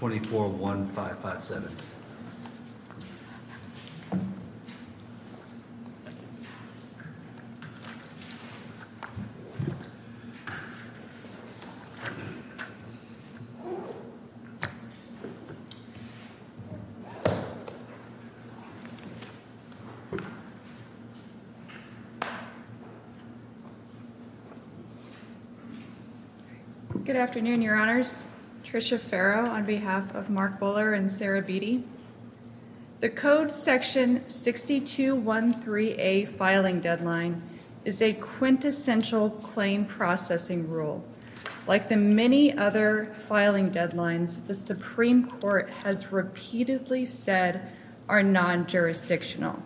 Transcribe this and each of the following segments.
241557. Good afternoon, your honors. Tricia Farrow on behalf of Mark Buller and Sarah Beattie. The code section 6213A filing deadline is a quintessential claim processing rule. Like the many other filing deadlines, the Supreme Court has repeatedly said are non-jurisdictional.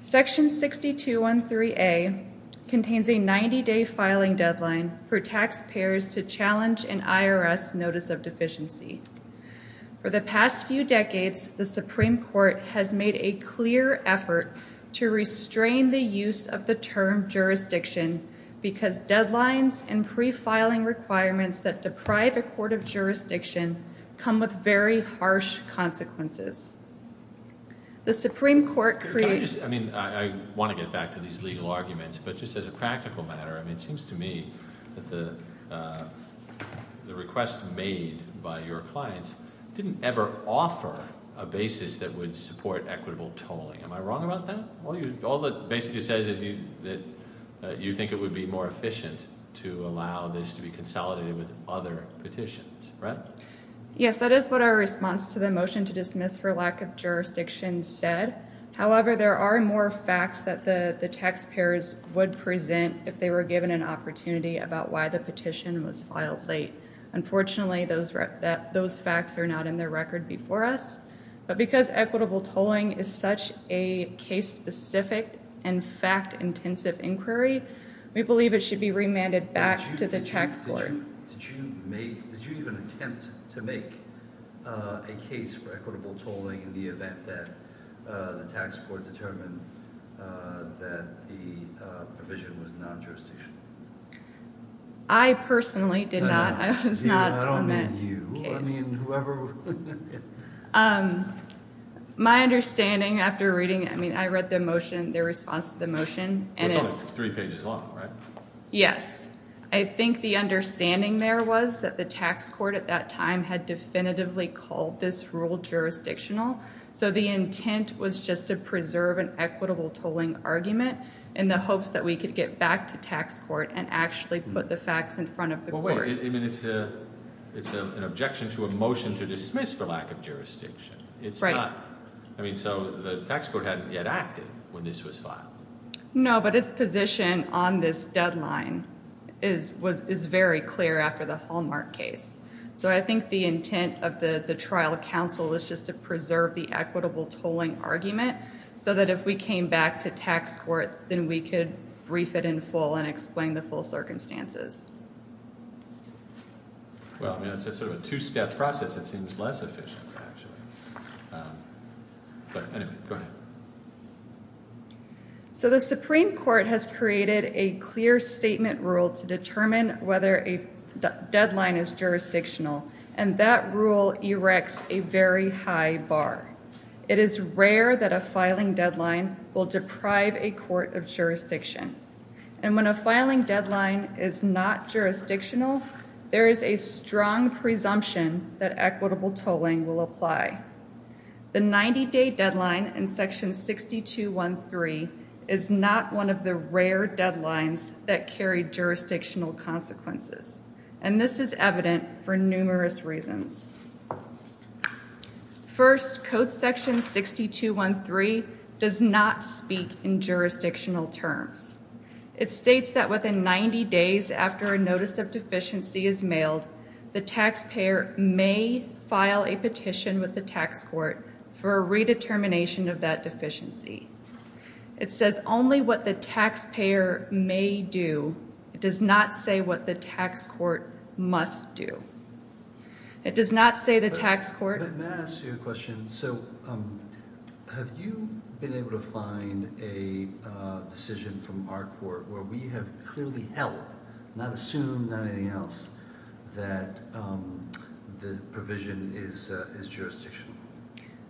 Section 6213A contains a 90-day filing deadline for taxpayers to challenge an IRS notice of deficiency. For the past few decades, the Supreme Court has made a clear effort to restrain the use of the term jurisdiction because deadlines and pre-filing requirements that deprive a court of jurisdiction come with very harsh consequences. The Supreme Court creates... Can I just... I mean, I want to get back to these legal arguments, but just as a practical matter, it seems to me that the request made by your clients didn't ever offer a basis that would support equitable tolling. Am I wrong about that? All that basically says is that you think it would be more efficient to allow this to be consolidated with other petitions, right? Yes, that is what our response to the motion to dismiss for lack of jurisdiction said. However, there are more facts that the taxpayers would present if they were given an opportunity about why the petition was filed late. Unfortunately, those facts are not in their record before us. But because equitable tolling is such a case-specific and fact-intensive inquiry, we believe it should be remanded back to the tax court. Did you even attempt to make a case for equitable tolling in the event that the tax court determined that the provision was non-jurisdictional? I personally did not. I was not on that case. I don't mean you. I mean whoever... My understanding after reading... I mean, I read the motion, the response to the motion, and it's... It's only three pages long, right? Yes. I think the understanding there was that the tax court at that time had definitively called this rule jurisdictional. So the intent was just to preserve an equitable tolling argument in the hopes that we could get back to tax court and actually put the facts in front of the court. Well, wait. I mean, it's an objection to a motion to dismiss for lack of jurisdiction. It's not... I mean, so the tax court hadn't yet acted when this was filed. No, but its position on this deadline is very clear after the Hallmark case. So I think the intent of the trial counsel is just to preserve the equitable tolling argument so that if we came back to tax court, then we could brief it in full and explain the full circumstances. Well, I mean, it's sort of a two-step process. It seems less efficient, actually. But anyway, go ahead. So the Supreme Court has created a clear statement rule to determine whether a deadline is jurisdictional, and that rule erects a very high bar. It is rare that a filing deadline will deprive a court of jurisdiction. And when a filing deadline is not jurisdictional, there is a strong presumption that equitable tolling will apply. The 90-day deadline in Section 6213 is not one of the rare deadlines that carry jurisdictional consequences. And this is evident for numerous reasons. First, Code Section 6213 does not speak in jurisdictional terms. It states that within 90 days after a notice of deficiency is mailed, the taxpayer may file a petition with the tax court for a redetermination of that deficiency. It says only what the taxpayer may do. It does not say what the tax court must do. It does not say the tax court... May I ask you a question? So have you been able to find a decision from our court where we have clearly held, not assumed, not anything else, that the provision is jurisdictional?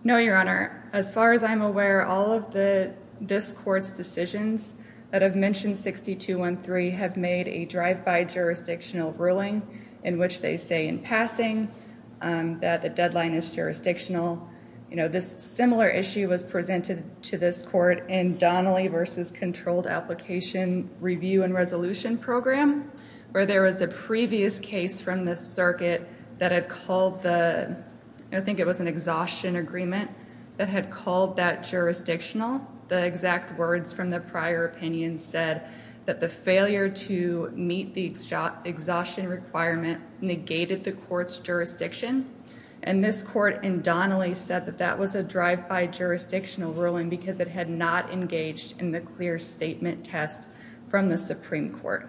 No, Your Honor. As far as I'm aware, all of this court's decisions that have mentioned 6213 have made a drive-by jurisdictional ruling in which they say in passing that the deadline is jurisdictional. This similar issue was presented to this court in Donnelly v. Controlled Application Review and Resolution Program, where there was a previous case from the circuit that had called the... I think it was an exhaustion agreement that had called that jurisdictional. The exact words from the prior opinion said that the failure to meet the exhaustion requirement negated the court's jurisdiction. And this court in Donnelly said that that was a drive-by jurisdictional ruling because it had not engaged in the clear statement test from the Supreme Court.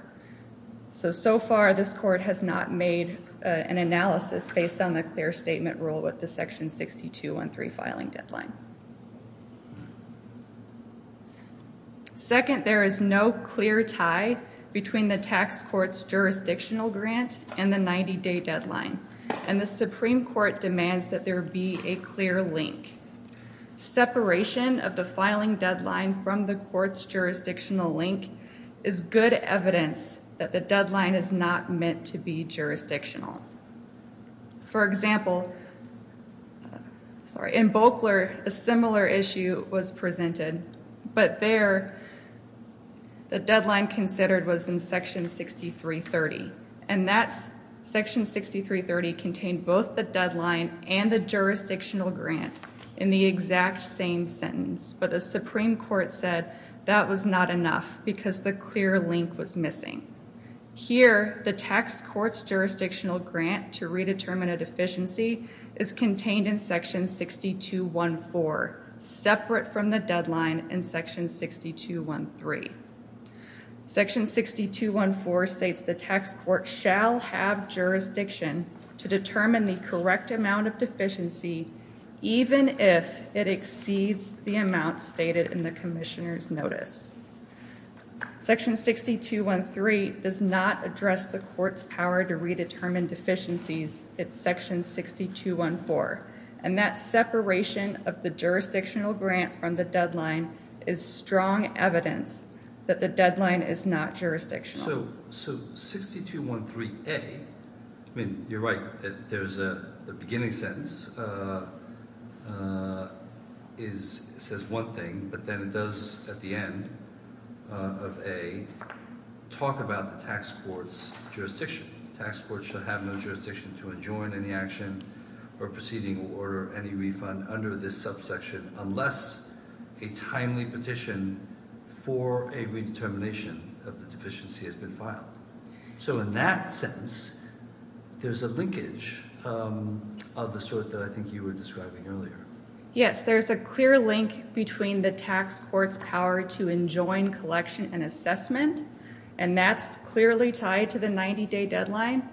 So, so far, this court has not made an analysis based on the clear statement rule with the section 6213 filing deadline. Second, there is no clear tie between the tax court's jurisdictional grant and the 90-day deadline. And the Supreme Court demands that there be a clear link. Separation of the filing deadline from the court's jurisdictional link is good evidence that the deadline is not meant to be jurisdictional. For example, in Bokler, a similar issue was presented, but there the deadline considered was in section 6330. And that section 6330 contained both the deadline and the jurisdictional grant in the exact same sentence. But the Supreme Court said that was not enough because the clear link was missing. Here, the tax court's jurisdictional grant to redetermine a deficiency is contained in section 6214, separate from the deadline in section 6213. Section 6214 states the tax court shall have jurisdiction to determine the correct amount of deficiency, even if it exceeds the amount stated in the commissioner's notice. Section 6213 does not address the court's power to redetermine deficiencies. It's section 6214. And that separation of the jurisdictional grant from the deadline is strong evidence that the deadline is not jurisdictional. So 6213A, I mean, you're right, the beginning sentence says one thing, but then it does, at the end of A, talk about the tax court's jurisdiction. Tax court shall have no jurisdiction to enjoin any action or proceeding or any refund under this subsection unless a timely petition for a redetermination of the deficiency has been filed. So in that sentence, there's a linkage of the sort that I think you were describing earlier. Yes, there's a clear link between the tax court's power to enjoin collection and assessment, and that's clearly tied to the 90-day deadline.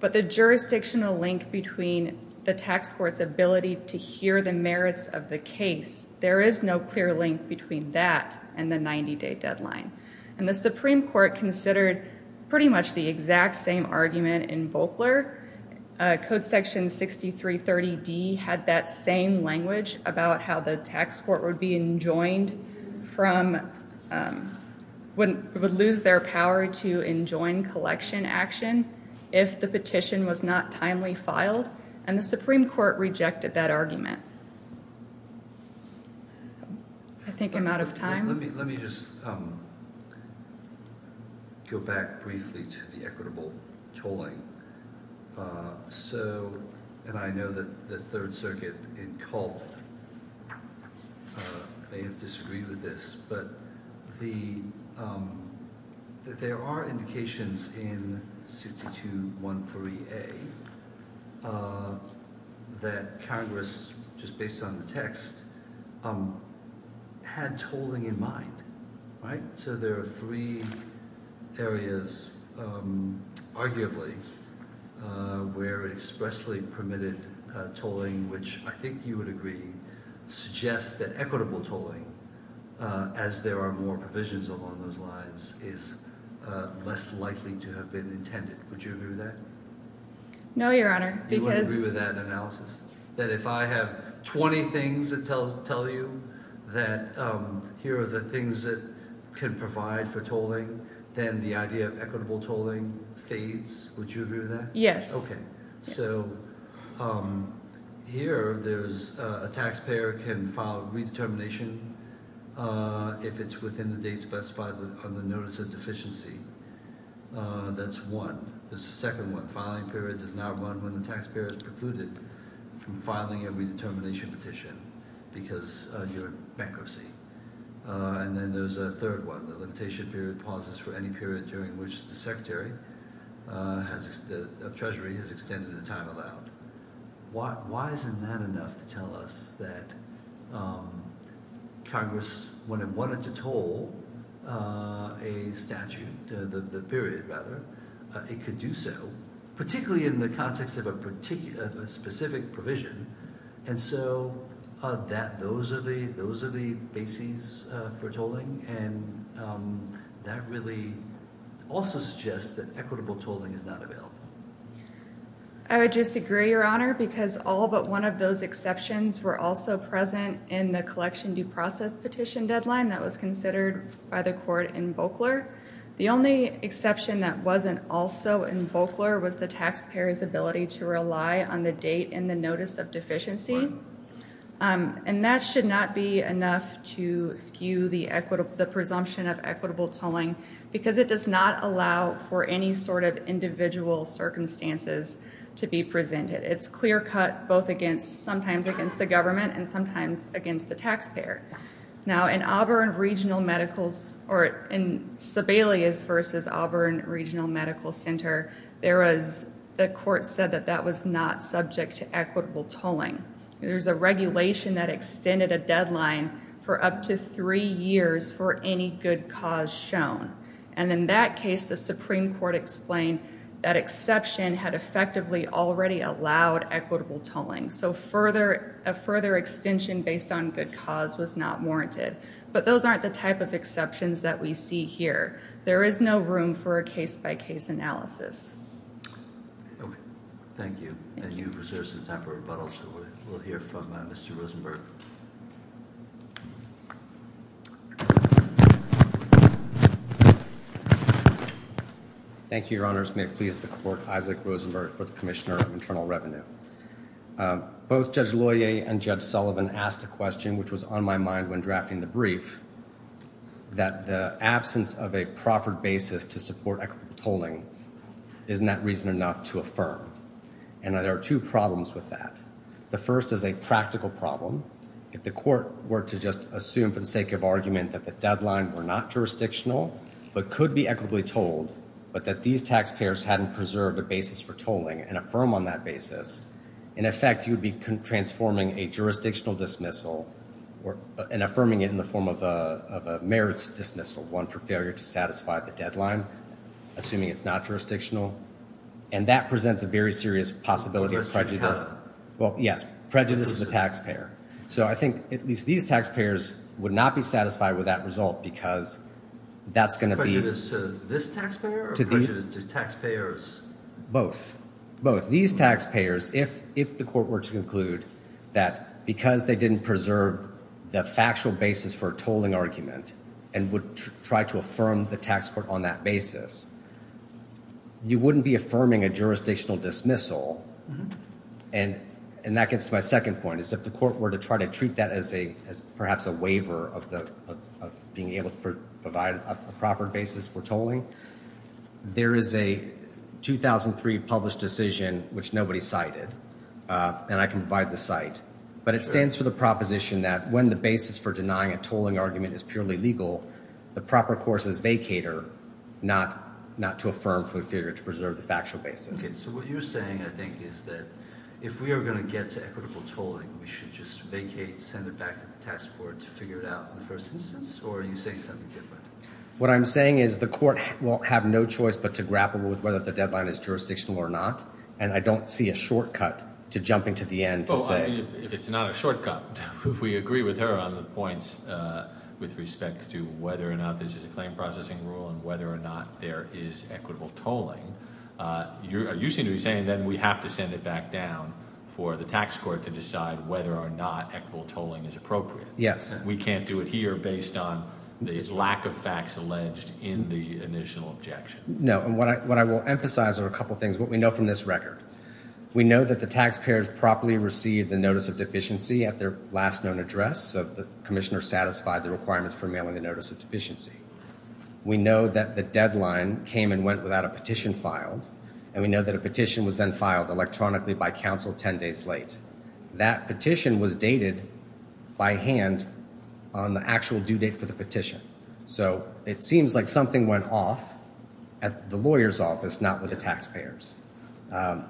But the jurisdictional link between the tax court's ability to hear the merits of the case, there is no clear link between that and the 90-day deadline. And the Supreme Court considered pretty much the exact same argument in Volkler. Code section 6330D had that same language about how the tax court would be enjoined from, would lose their power to enjoin collection action if the petition was not timely filed. And the Supreme Court rejected that argument. I think I'm out of time. Let me just go back briefly to the equitable tolling. And I know that the Third Circuit in Culp may have disagreed with this, but there are indications in 6213A that Congress, just based on the text, had tolling in mind. So there are three areas, arguably, where expressly permitted tolling, which I think you would agree, suggests that equitable tolling, as there are more provisions along those lines, is less likely to have been intended. Would you agree with that? No, Your Honor. You wouldn't agree with that analysis? That if I have 20 things that tell you that here are the things that can provide for tolling, then the idea of equitable tolling fades? Would you agree with that? Yes. Okay. So here there's a taxpayer can file a redetermination if it's within the date specified on the notice of deficiency. That's one. There's a second one. Filing period does not run when the taxpayer is precluded from filing a redetermination petition because you're in bankruptcy. And then there's a third one. The limitation period pauses for any period during which the Secretary of Treasury has extended the time allowed. Why isn't that enough to tell us that Congress, when it wanted to toll a statute, the period rather, it could do so, particularly in the context of a specific provision. And so those are the bases for tolling. And that really also suggests that equitable tolling is not available. I would just agree, Your Honor, because all but one of those exceptions were also present in the collection due process petition deadline that was considered by the court in Volkler. The only exception that wasn't also in Volkler was the taxpayer's ability to rely on the date in the notice of deficiency. And that should not be enough to skew the presumption of equitable tolling because it does not allow for any sort of individual circumstances to be presented. It's clear-cut both sometimes against the government and sometimes against the taxpayer. Now, in Sibelius v. Auburn Regional Medical Center, the court said that that was not subject to equitable tolling. There's a regulation that extended a deadline for up to three years for any good cause shown. And in that case, the Supreme Court explained that exception had effectively already allowed equitable tolling. So a further extension based on good cause was not warranted. But those aren't the type of exceptions that we see here. There is no room for a case-by-case analysis. Thank you. And you've reserved some time for rebuttal, so we'll hear from Mr. Rosenberg. Thank you, Your Honors. May it please the Court, Isaac Rosenberg for the Commissioner of Internal Revenue. Both Judge Loyer and Judge Sullivan asked a question which was on my mind when drafting the brief, that the absence of a proffered basis to support equitable tolling is not reason enough to affirm. And there are two problems with that. The first is a practical problem. If the court were to just assume for the sake of argument that the deadline were not jurisdictional but could be equitably tolled, but that these taxpayers hadn't preserved a basis for tolling and affirm on that basis, in effect you'd be transforming a jurisdictional dismissal and affirming it in the form of a merits dismissal, one for failure to satisfy the deadline, assuming it's not jurisdictional. And that presents a very serious possibility of prejudice. Well, yes, prejudice of the taxpayer. So I think at least these taxpayers would not be satisfied with that result because that's going to be— Prejudice to this taxpayer or prejudice to taxpayers? Both. Both. These taxpayers, if the court were to conclude that because they didn't preserve the factual basis for a tolling argument and would try to affirm the tax court on that basis, you wouldn't be affirming a jurisdictional dismissal and that gets to my second point is if the court were to try to treat that as perhaps a waiver of being able to provide a proper basis for tolling, there is a 2003 published decision, which nobody cited, and I can provide the site, but it stands for the proposition that when the basis for denying a tolling argument is purely legal, the proper course is vacator, not to affirm for failure to preserve the factual basis. So what you're saying, I think, is that if we are going to get to equitable tolling, we should just vacate, send it back to the tax court to figure it out in the first instance? Or are you saying something different? What I'm saying is the court will have no choice but to grapple with whether the deadline is jurisdictional or not, and I don't see a shortcut to jumping to the end to say— If it's not a shortcut, if we agree with her on the points with respect to whether or not this is a claim processing rule and whether or not there is equitable tolling, you seem to be saying then we have to send it back down for the tax court to decide whether or not equitable tolling is appropriate. Yes. We can't do it here based on the lack of facts alleged in the initial objection. No, and what I will emphasize are a couple of things. What we know from this record, we know that the taxpayers properly received the notice of deficiency at their last known address, so the commissioner satisfied the requirements for mailing the notice of deficiency. We know that the deadline came and went without a petition filed, and we know that a petition was then filed electronically by counsel 10 days late. That petition was dated by hand on the actual due date for the petition, so it seems like something went off at the lawyer's office, not with the taxpayers. In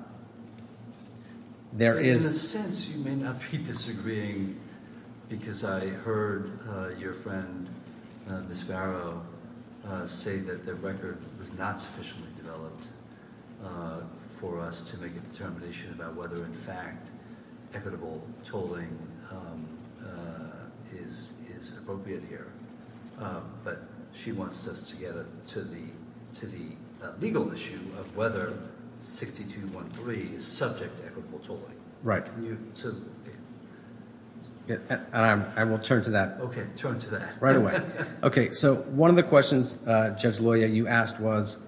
a sense, you may not be disagreeing because I heard your friend, Ms. Varro, say that the record was not sufficiently developed for us to make a determination about whether, in fact, equitable tolling is appropriate here, but she wants us to get to the legal issue of whether 6213 is subject to equitable tolling. Right. I will turn to that. Okay, turn to that. Right away. Okay, so one of the questions, Judge Loya, you asked was,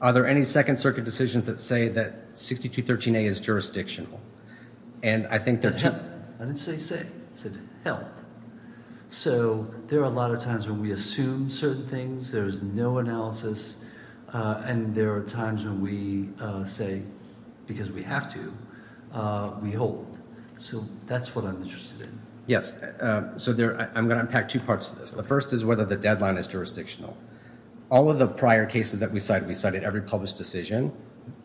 are there any Second Circuit decisions that say that 6213A is jurisdictional? I didn't say say. I said held. So there are a lot of times when we assume certain things. There's no analysis, and there are times when we say, because we have to, we hold. So that's what I'm interested in. Yes, so I'm going to unpack two parts of this. The first is whether the deadline is jurisdictional. All of the prior cases that we cited, we cited every published decision.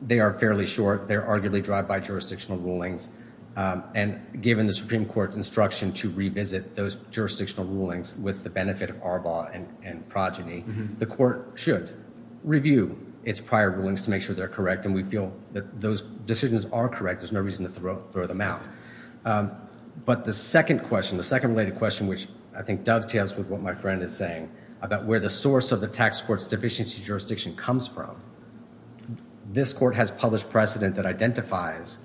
They are fairly short. They are arguably drive-by jurisdictional rulings, and given the Supreme Court's instruction to revisit those jurisdictional rulings with the benefit of Arbaugh and Progeny, the court should review its prior rulings to make sure they're correct, and we feel that those decisions are correct. There's no reason to throw them out. But the second question, the second related question, which I think dovetails with what my friend is saying, about where the source of the tax court's deficiency jurisdiction comes from, this court has published precedent that identifies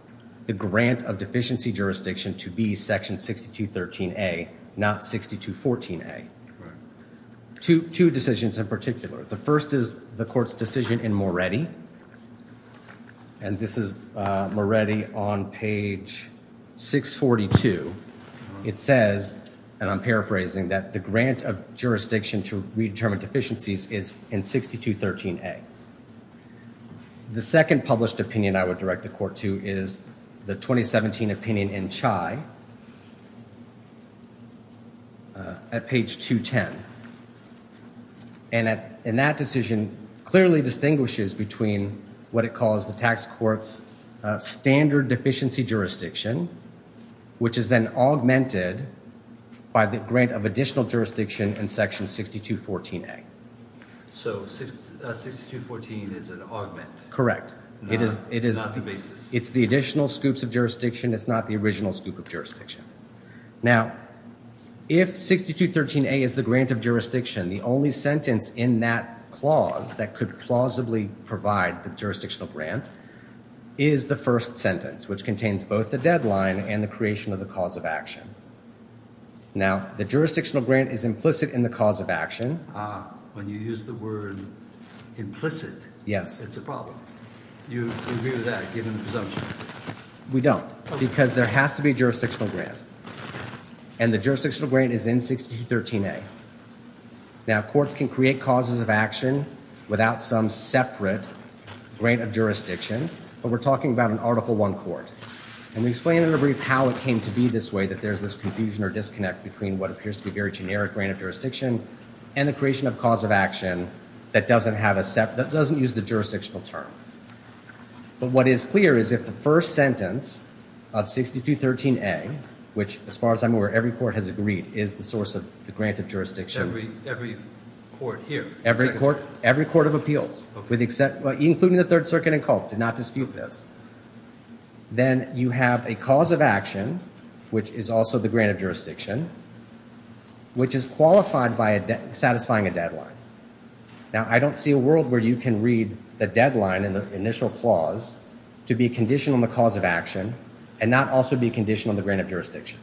the grant of deficiency jurisdiction to be section 6213A, not 6214A. Two decisions in particular. The first is the court's decision in Moretti, and this is Moretti on page 642. It says, and I'm paraphrasing, that the grant of jurisdiction to redetermine deficiencies is in 6213A. The second published opinion I would direct the court to is the 2017 opinion in Chai at page 210. And that decision clearly distinguishes between what it calls the tax court's standard deficiency jurisdiction, which is then augmented by the grant of additional jurisdiction in section 6214A. So 6214 is an augment. Correct. Not the basis. It's the additional scoops of jurisdiction. It's not the original scoop of jurisdiction. Now, if 6213A is the grant of jurisdiction, the only sentence in that clause that could plausibly provide the jurisdictional grant is the first sentence, which contains both the deadline and the creation of the cause of action. Now, the jurisdictional grant is implicit in the cause of action. Ah, when you use the word implicit, it's a problem. You agree with that, given the presumption? We don't, because there has to be a jurisdictional grant, and the jurisdictional grant is in 6213A. Now, courts can create causes of action without some separate grant of jurisdiction, but we're talking about an Article I court. And we explain in a brief how it came to be this way, that there's this confusion or disconnect between what appears to be a very generic grant of jurisdiction and the creation of cause of action that doesn't use the jurisdictional term. But what is clear is if the first sentence of 6213A, which, as far as I'm aware, every court has agreed, is the source of the grant of jurisdiction. Every court here? Every court of appeals, including the Third Circuit and Culp, did not dispute this. Then you have a cause of action, which is also the grant of jurisdiction, which is qualified by satisfying a deadline. Now, I don't see a world where you can read the deadline in the initial clause to be a condition on the cause of action and not also be a condition on the grant of jurisdiction.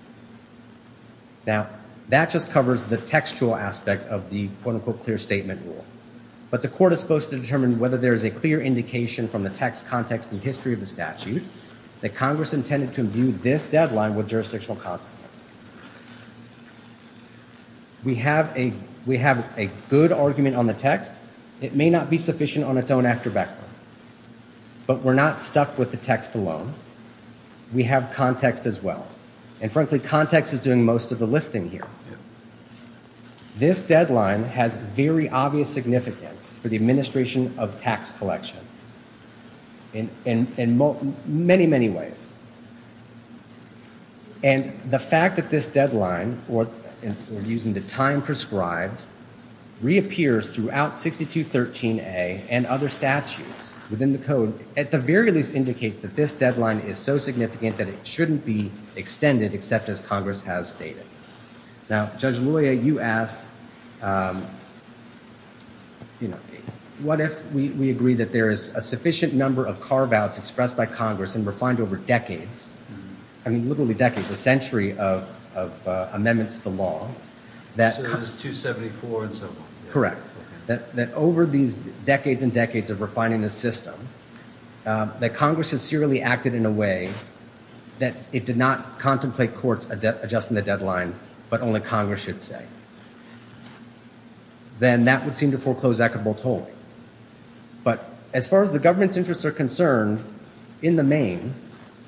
Now, that just covers the textual aspect of the quote-unquote clear statement rule. But the court is supposed to determine whether there is a clear indication from the text, context, and history of the statute that Congress intended to view this deadline with jurisdictional consequence. We have a good argument on the text. It may not be sufficient on its own after Beckman. But we're not stuck with the text alone. We have context as well. And frankly, context is doing most of the lifting here. This deadline has very obvious significance for the administration of tax collection in many, many ways. And the fact that this deadline, or using the time prescribed, reappears throughout 6213A and other statutes within the code at the very least indicates that this deadline is so significant that it shouldn't be extended except as Congress has stated. Now, Judge Loya, you asked, what if we agree that there is a sufficient number of carve-outs expressed by Congress and refined over decades, I mean literally decades, a century of amendments to the law. So there's 274 and so on. Correct. That over these decades and decades of refining the system, that Congress has serially acted in a way that it did not contemplate courts adjusting the deadline, but only Congress should say. Then that would seem to foreclose equitable tolling. But as far as the government's interests are concerned, in the main,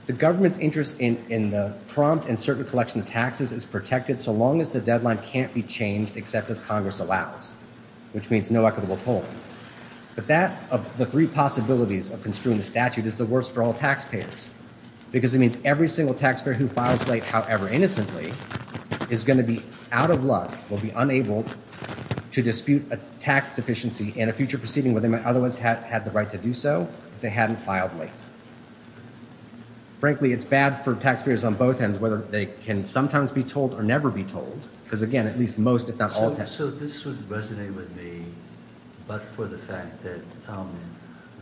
the government's interest in the prompt and certain collection of taxes is protected so long as the deadline can't be changed except as Congress allows, which means no equitable tolling. But that of the three possibilities of construing the statute is the worst for all taxpayers because it means every single taxpayer who files late, however innocently, is going to be out of luck, will be unable to dispute a tax deficiency in a future proceeding where they might otherwise have had the right to do so if they hadn't filed late. Frankly, it's bad for taxpayers on both ends whether they can sometimes be told or never be told because again, at least most, if not all taxpayers. So this would resonate with me, but for the fact that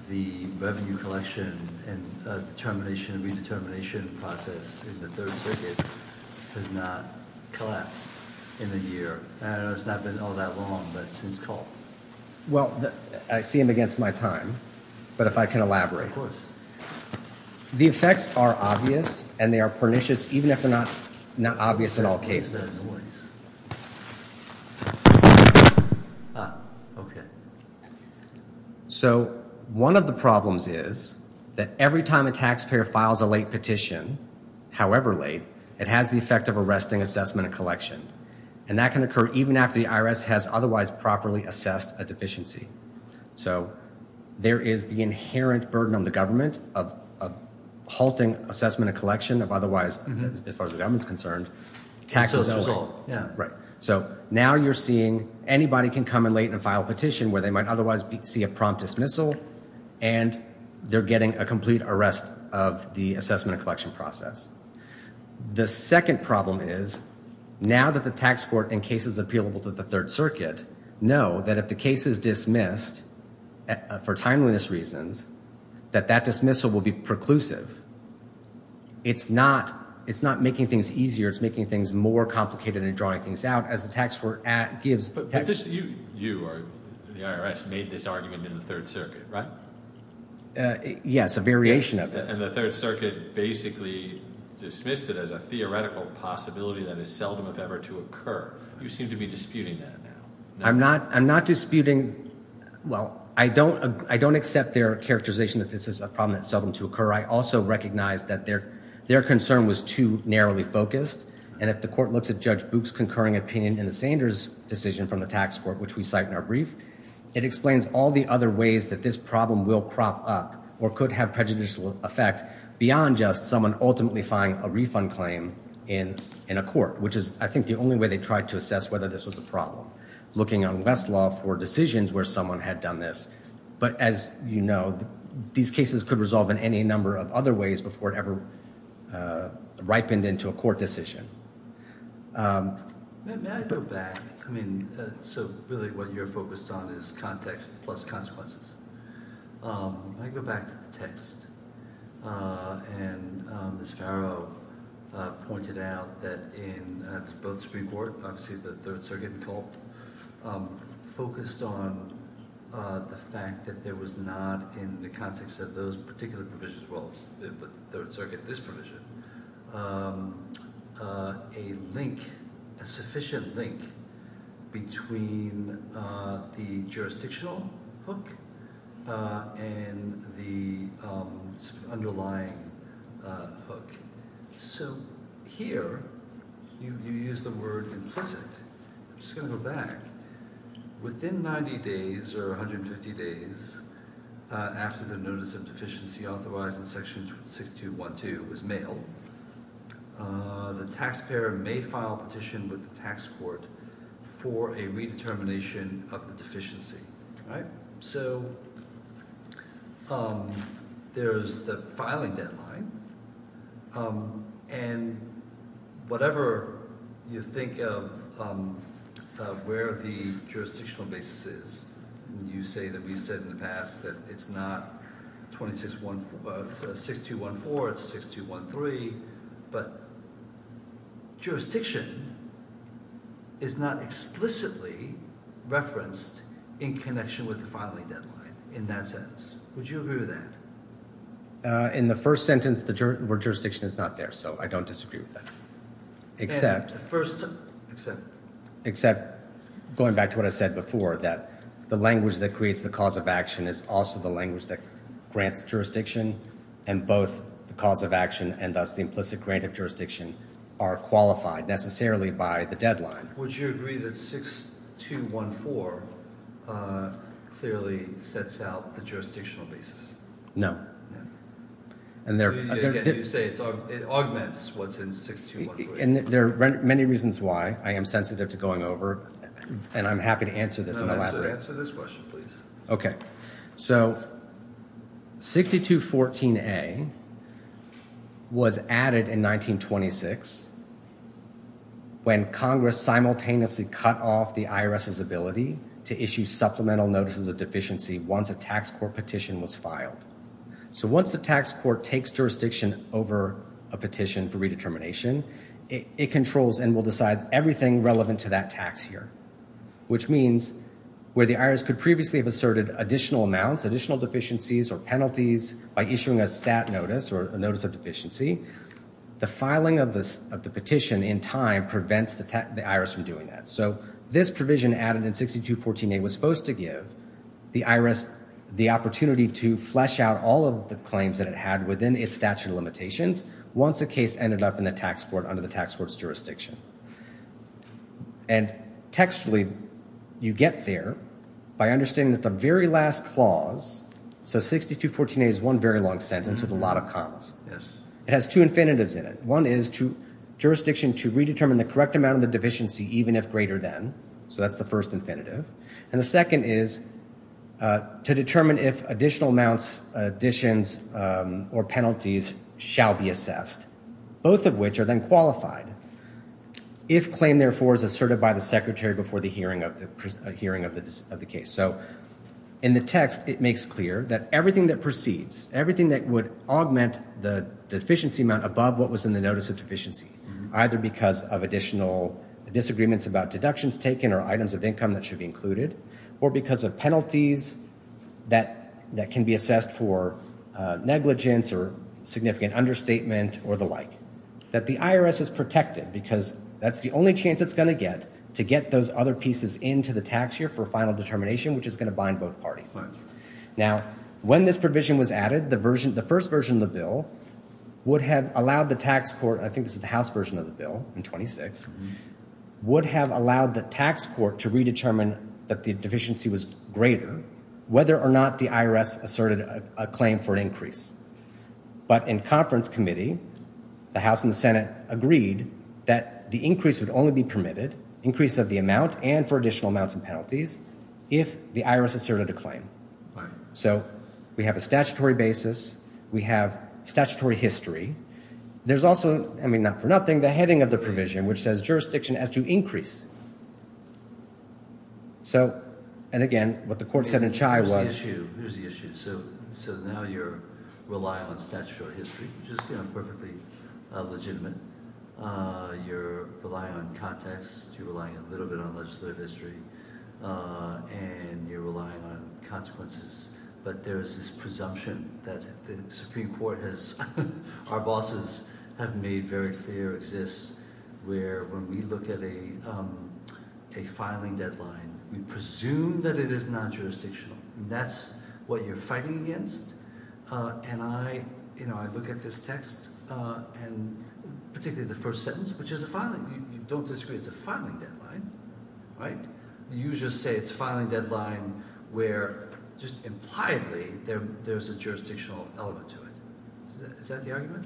the revenue collection and determination and redetermination process in the Third Circuit has not collapsed in a year. I know it's not been all that long, but since Culp. Well, I see him against my time, but if I can elaborate. The effects are obvious and they are pernicious even if they're not obvious in all cases. As always. Ah, okay. So one of the problems is that every time a taxpayer files a late petition, however late, it has the effect of arresting assessment and collection and that can occur even after the IRS has otherwise properly assessed a deficiency. So there is the inherent burden on the government of halting assessment and collection of otherwise, as far as the government is concerned, taxes that way. Right. So now you're seeing anybody can come in late and file a petition where they might otherwise see a prompt dismissal and they're getting a complete arrest of the assessment and collection process. The second problem is now that the tax court in cases appealable to the Third Circuit know that if the case is dismissed for timeliness reasons that that dismissal will be preclusive. It's not making things easier. It's making things more complicated and drawing things out as the tax court gives... But you or the IRS made this argument in the Third Circuit, right? Yes, a variation of it. And the Third Circuit basically dismissed it as a theoretical possibility that is seldom if ever to occur. You seem to be disputing that now. I'm not disputing... Well, I don't accept their characterization that this is a problem that's seldom to occur. I also recognize that their concern was too narrowly focused. And if the court looks at Judge Boock's concurring opinion in the Sanders decision from the tax court, which we cite in our brief, it explains all the other ways that this problem will crop up or could have prejudicial effect beyond just someone ultimately filing a refund claim in a court, which is, I think, the only way they tried to assess whether this was a problem. Looking on Westlaw for decisions where someone had done this. But as you know, these cases could resolve in any number of other ways before it ever ripened into a court decision. May I go back? I mean, so really what you're focused on is context plus consequences. I go back to the text. And Ms. Farrow pointed out that in both Supreme Court, obviously the Third Circuit and Culp, focused on the fact that there was not, in the context of those particular provisions, well, the Third Circuit, this provision, a link, a sufficient link, between the jurisdictional hook and the underlying hook. So here, you use the word implicit. I'm just gonna go back. Within 90 days or 150 days after the notice of deficiency authorized in Section 6212 was mailed, the taxpayer may file a petition with the tax court for a redetermination of the deficiency. All right? So there's the filing deadline. And whatever you think of where the jurisdictional basis is, you say that we've said in the past that it's not 6214, it's 6213, but jurisdiction is not explicitly referenced in connection with the filing deadline, in that sense. Would you agree with that? In the first sentence, the word jurisdiction is not there, so I don't disagree with that. Except... First, except... Except, going back to what I said before, that the language that creates the cause of action is also the language that grants jurisdiction, and both the cause of action and, thus, the implicit grant of jurisdiction are qualified, necessarily, by the deadline. Would you agree that 6214 clearly sets out the jurisdictional basis? No. Again, you say it augments what's in 6214. And there are many reasons why. I am sensitive to going over, and I'm happy to answer this in the lab. Answer this question, please. Okay. So, 6214A was added in 1926 when Congress simultaneously cut off the IRS's ability to issue supplemental notices of deficiency once a tax court petition was filed. So once the tax court takes jurisdiction over a petition for redetermination, it controls and will decide everything relevant to that tax year, which means where the IRS could previously have asserted additional amounts, additional deficiencies or penalties by issuing a stat notice or a notice of deficiency, the filing of the petition in time prevents the IRS from doing that. So this provision added in 6214A was supposed to give the IRS the opportunity to flesh out all of the claims that it had within its statute of limitations once the case ended up in the tax court under the tax court's jurisdiction. And textually, you get there by understanding that the very last clause, so 6214A is one very long sentence with a lot of commas. Yes. It has two infinitives in it. One is jurisdiction to redetermine the correct amount of the deficiency, even if greater than. So that's the first infinitive. And the second is to determine if additional amounts, additions, or penalties shall be assessed, both of which are then qualified, if claim therefore is asserted by the secretary before the hearing of the case. So in the text, it makes clear that everything that proceeds, everything that would augment the deficiency amount above what was in the notice of deficiency, either because of additional disagreements about deductions taken or items of income that should be included, or because of penalties that can be assessed for negligence or significant understatement or the like, that the IRS has protected because that's the only chance it's going to get to get those other pieces into the tax year for final determination, which is going to bind both parties. Now, when this provision was added, the first version of the bill would have allowed the tax court, and I think this is the House version of the bill in 26, would have allowed the tax court to redetermine that the deficiency was greater whether or not the IRS asserted a claim for an increase. But in conference committee, the House and the Senate agreed that the increase would only be permitted, increase of the amount and for additional amounts and penalties, if the IRS asserted a claim. So we have a statutory basis. We have statutory history. There's also, I mean, not for nothing, the heading of the provision, which says jurisdiction has to increase. So, and again, what the court said in Chai was... Here's the issue. So now you're relying on statutory history, which is perfectly legitimate. You're relying on context. You're relying a little bit on legislative history, and you're relying on consequences. But there is this presumption that the Supreme Court has, our bosses have made very clear exists where when we look at a filing deadline, we presume that it is non-jurisdictional. That's what you're fighting against. And I, you know, I look at this text, and particularly the first sentence, which is a filing. You don't disagree it's a filing deadline, right? You just say it's a filing deadline where just impliedly there's a jurisdictional element to it. Is that the argument?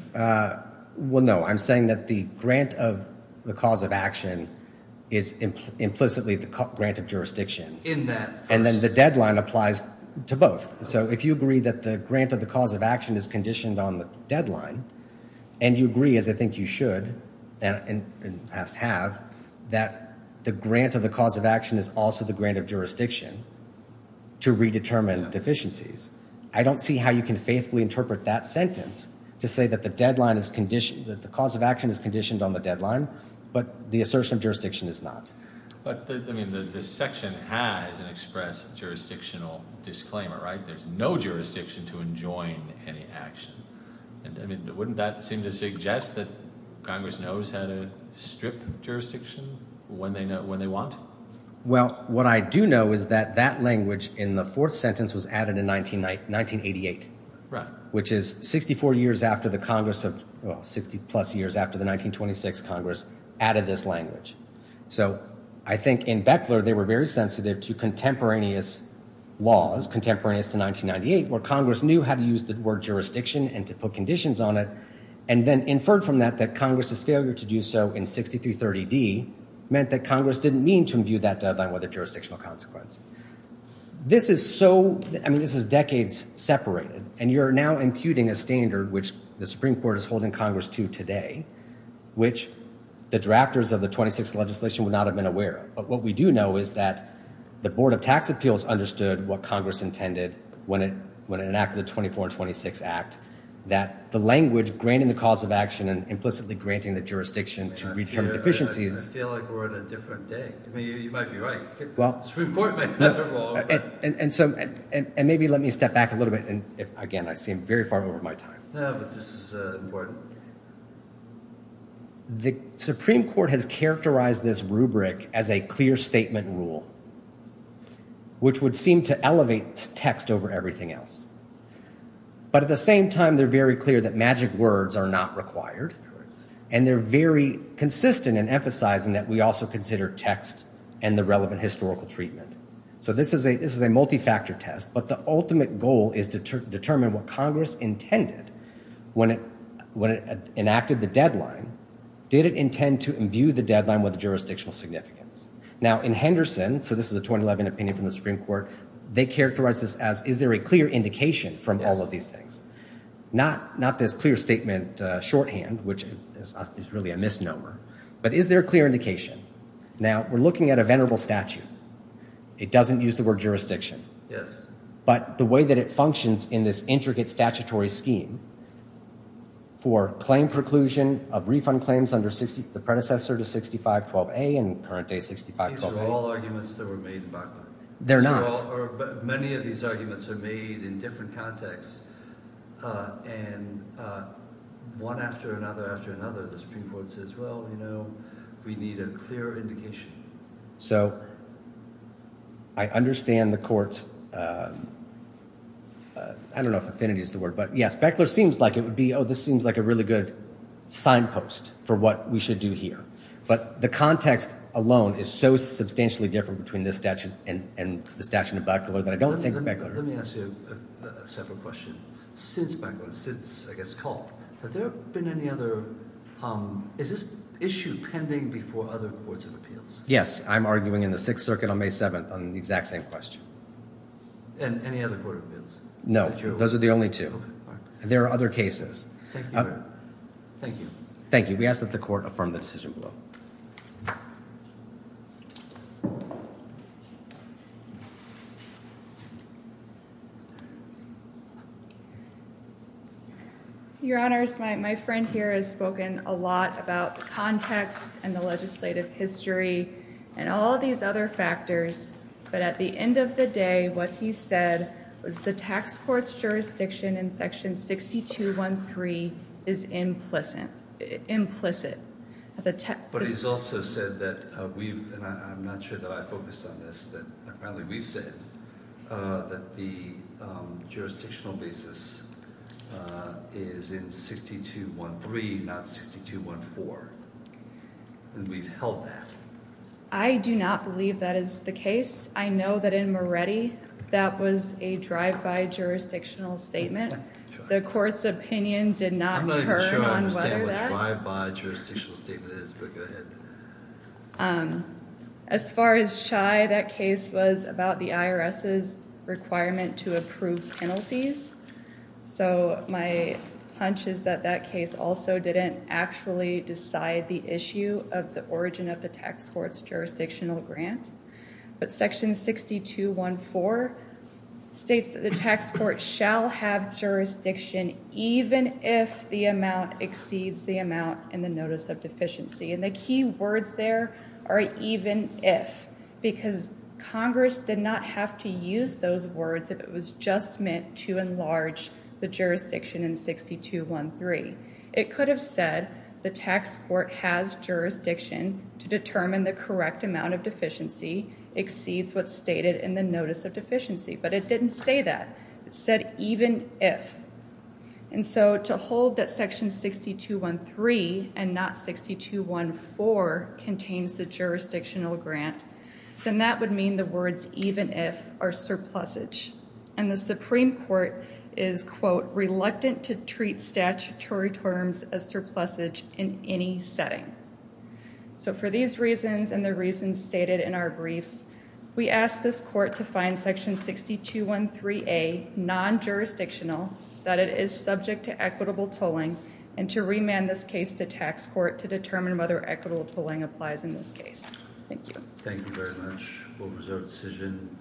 Well, no, I'm saying that the grant of the cause of action is implicitly the grant of jurisdiction. In that first... And then the deadline applies to both. So if you agree that the grant of the cause of action is conditioned on the deadline, and you agree, as I think you should and must have, that the grant of the cause of action is also the grant of jurisdiction to redetermine deficiencies, I don't see how you can faithfully interpret that sentence to say that the deadline is conditioned, that the cause of action is conditioned on the deadline, but the assertion of jurisdiction is not. But, I mean, the section has an expressed jurisdictional disclaimer, right? There's no jurisdiction to enjoin any action. I mean, wouldn't that seem to suggest that Congress knows how to strip jurisdiction when they want? Well, what I do know is that that language in the fourth sentence was added in 1988, which is 64 years after the Congress of... Well, 60-plus years after the 1926 Congress added this language. So I think in Beckler, they were very sensitive to contemporaneous laws, contemporaneous to 1998, where Congress knew how to use the word jurisdiction and to put conditions on it, and then inferred from that that Congress's failure to do so in 6330d meant that Congress didn't mean to imbue that deadline with a jurisdictional consequence. This is so... I mean, this is decades separated, and you're now imputing a standard which the Supreme Court is holding Congress to today, which the drafters of the 26th legislation would not have been aware of. But what we do know is that the Board of Tax Appeals understood what Congress intended when it enacted the 24 and 26 Act, that the language granting the cause of action and implicitly granting the jurisdiction to return deficiencies... I feel like we're on a different day. I mean, you might be right. The Supreme Court may have it wrong. And maybe let me step back a little bit. Again, I seem very far over my time. No, but this is important. The Supreme Court has characterized this rubric as a clear statement rule, which would seem to elevate text over everything else. But at the same time, they're very clear that magic words are not required, and they're very consistent in emphasizing that we also consider text and the relevant historical treatment. So this is a multi-factor test, but the ultimate goal is to determine what Congress intended when it enacted the deadline. Did it intend to imbue the deadline with jurisdictional significance? Now, in Henderson, so this is a 2011 opinion from the Supreme Court, they characterized this as, is there a clear indication from all of these things? Not this clear statement shorthand, which is really a misnomer, but is there a clear indication? Now, we're looking at a venerable statute. It doesn't use the word jurisdiction. But the way that it functions in this intricate statutory scheme for claim preclusion of refund claims under the predecessor to 6512A and current day 6512A... These are all arguments that were made in Bachmann. They're not. Many of these arguments are made in different contexts, and one after another after another, the Supreme Court says, well, you know, we need a clear indication. So I understand the court's... I don't know if affinity is the word, but yes, Beckler seems like it would be, oh, this seems like a really good signpost for what we should do here. But the context alone is so substantially different between this statute and the statute of Beckler that I don't think Beckler... Let me ask you a separate question. Since Beckler, since, I guess, Culp, have there been any other... Is this issue pending before other courts of appeals? Yes, I'm arguing in the Sixth Circuit on May 7th on the exact same question. And any other court of appeals? No, those are the only two. There are other cases. Thank you. Thank you. We ask that the court affirm the decision below. Your Honors, my friend here has spoken a lot about the context and the legislative history and all these other factors. But at the end of the day, what he said was the tax court's jurisdiction in Section 6213 is implicit. But he's also said that we've, and I'm not sure that I focused on this, that apparently we've said that the jurisdictional basis is in 6213, not 6214. And we've held that. I do not believe that is the case. I know that in Moretti, that was a drive-by jurisdictional statement. The court's opinion did not turn on whether that... I don't understand what a drive-by jurisdictional statement is, but go ahead. As far as Chai, that case was about the IRS's requirement to approve penalties. So my hunch is that that case also didn't actually decide the issue of the origin of the tax court's jurisdictional grant. But Section 6214 states that the tax court shall have jurisdiction even if the amount exceeds the amount in the Notice of Deficiency. And the key words there are even if, because Congress did not have to use those words if it was just meant to enlarge the jurisdiction in 6213. It could have said the tax court has jurisdiction to determine the correct amount of deficiency exceeds what's stated in the Notice of Deficiency, but it didn't say that. It said even if. And so to hold that Section 6213 and not 6214 contains the jurisdictional grant, then that would mean the words even if are surplusage. And the Supreme Court is, quote, reluctant to treat statutory terms as surplusage in any setting. So for these reasons and the reasons stated in our briefs, we ask this court to find Section 6213A non-jurisdictional, that it is subject to equitable tolling, and to remand this case to tax court to determine whether equitable tolling applies in this case. Thank you. Thank you very much. What was our decision?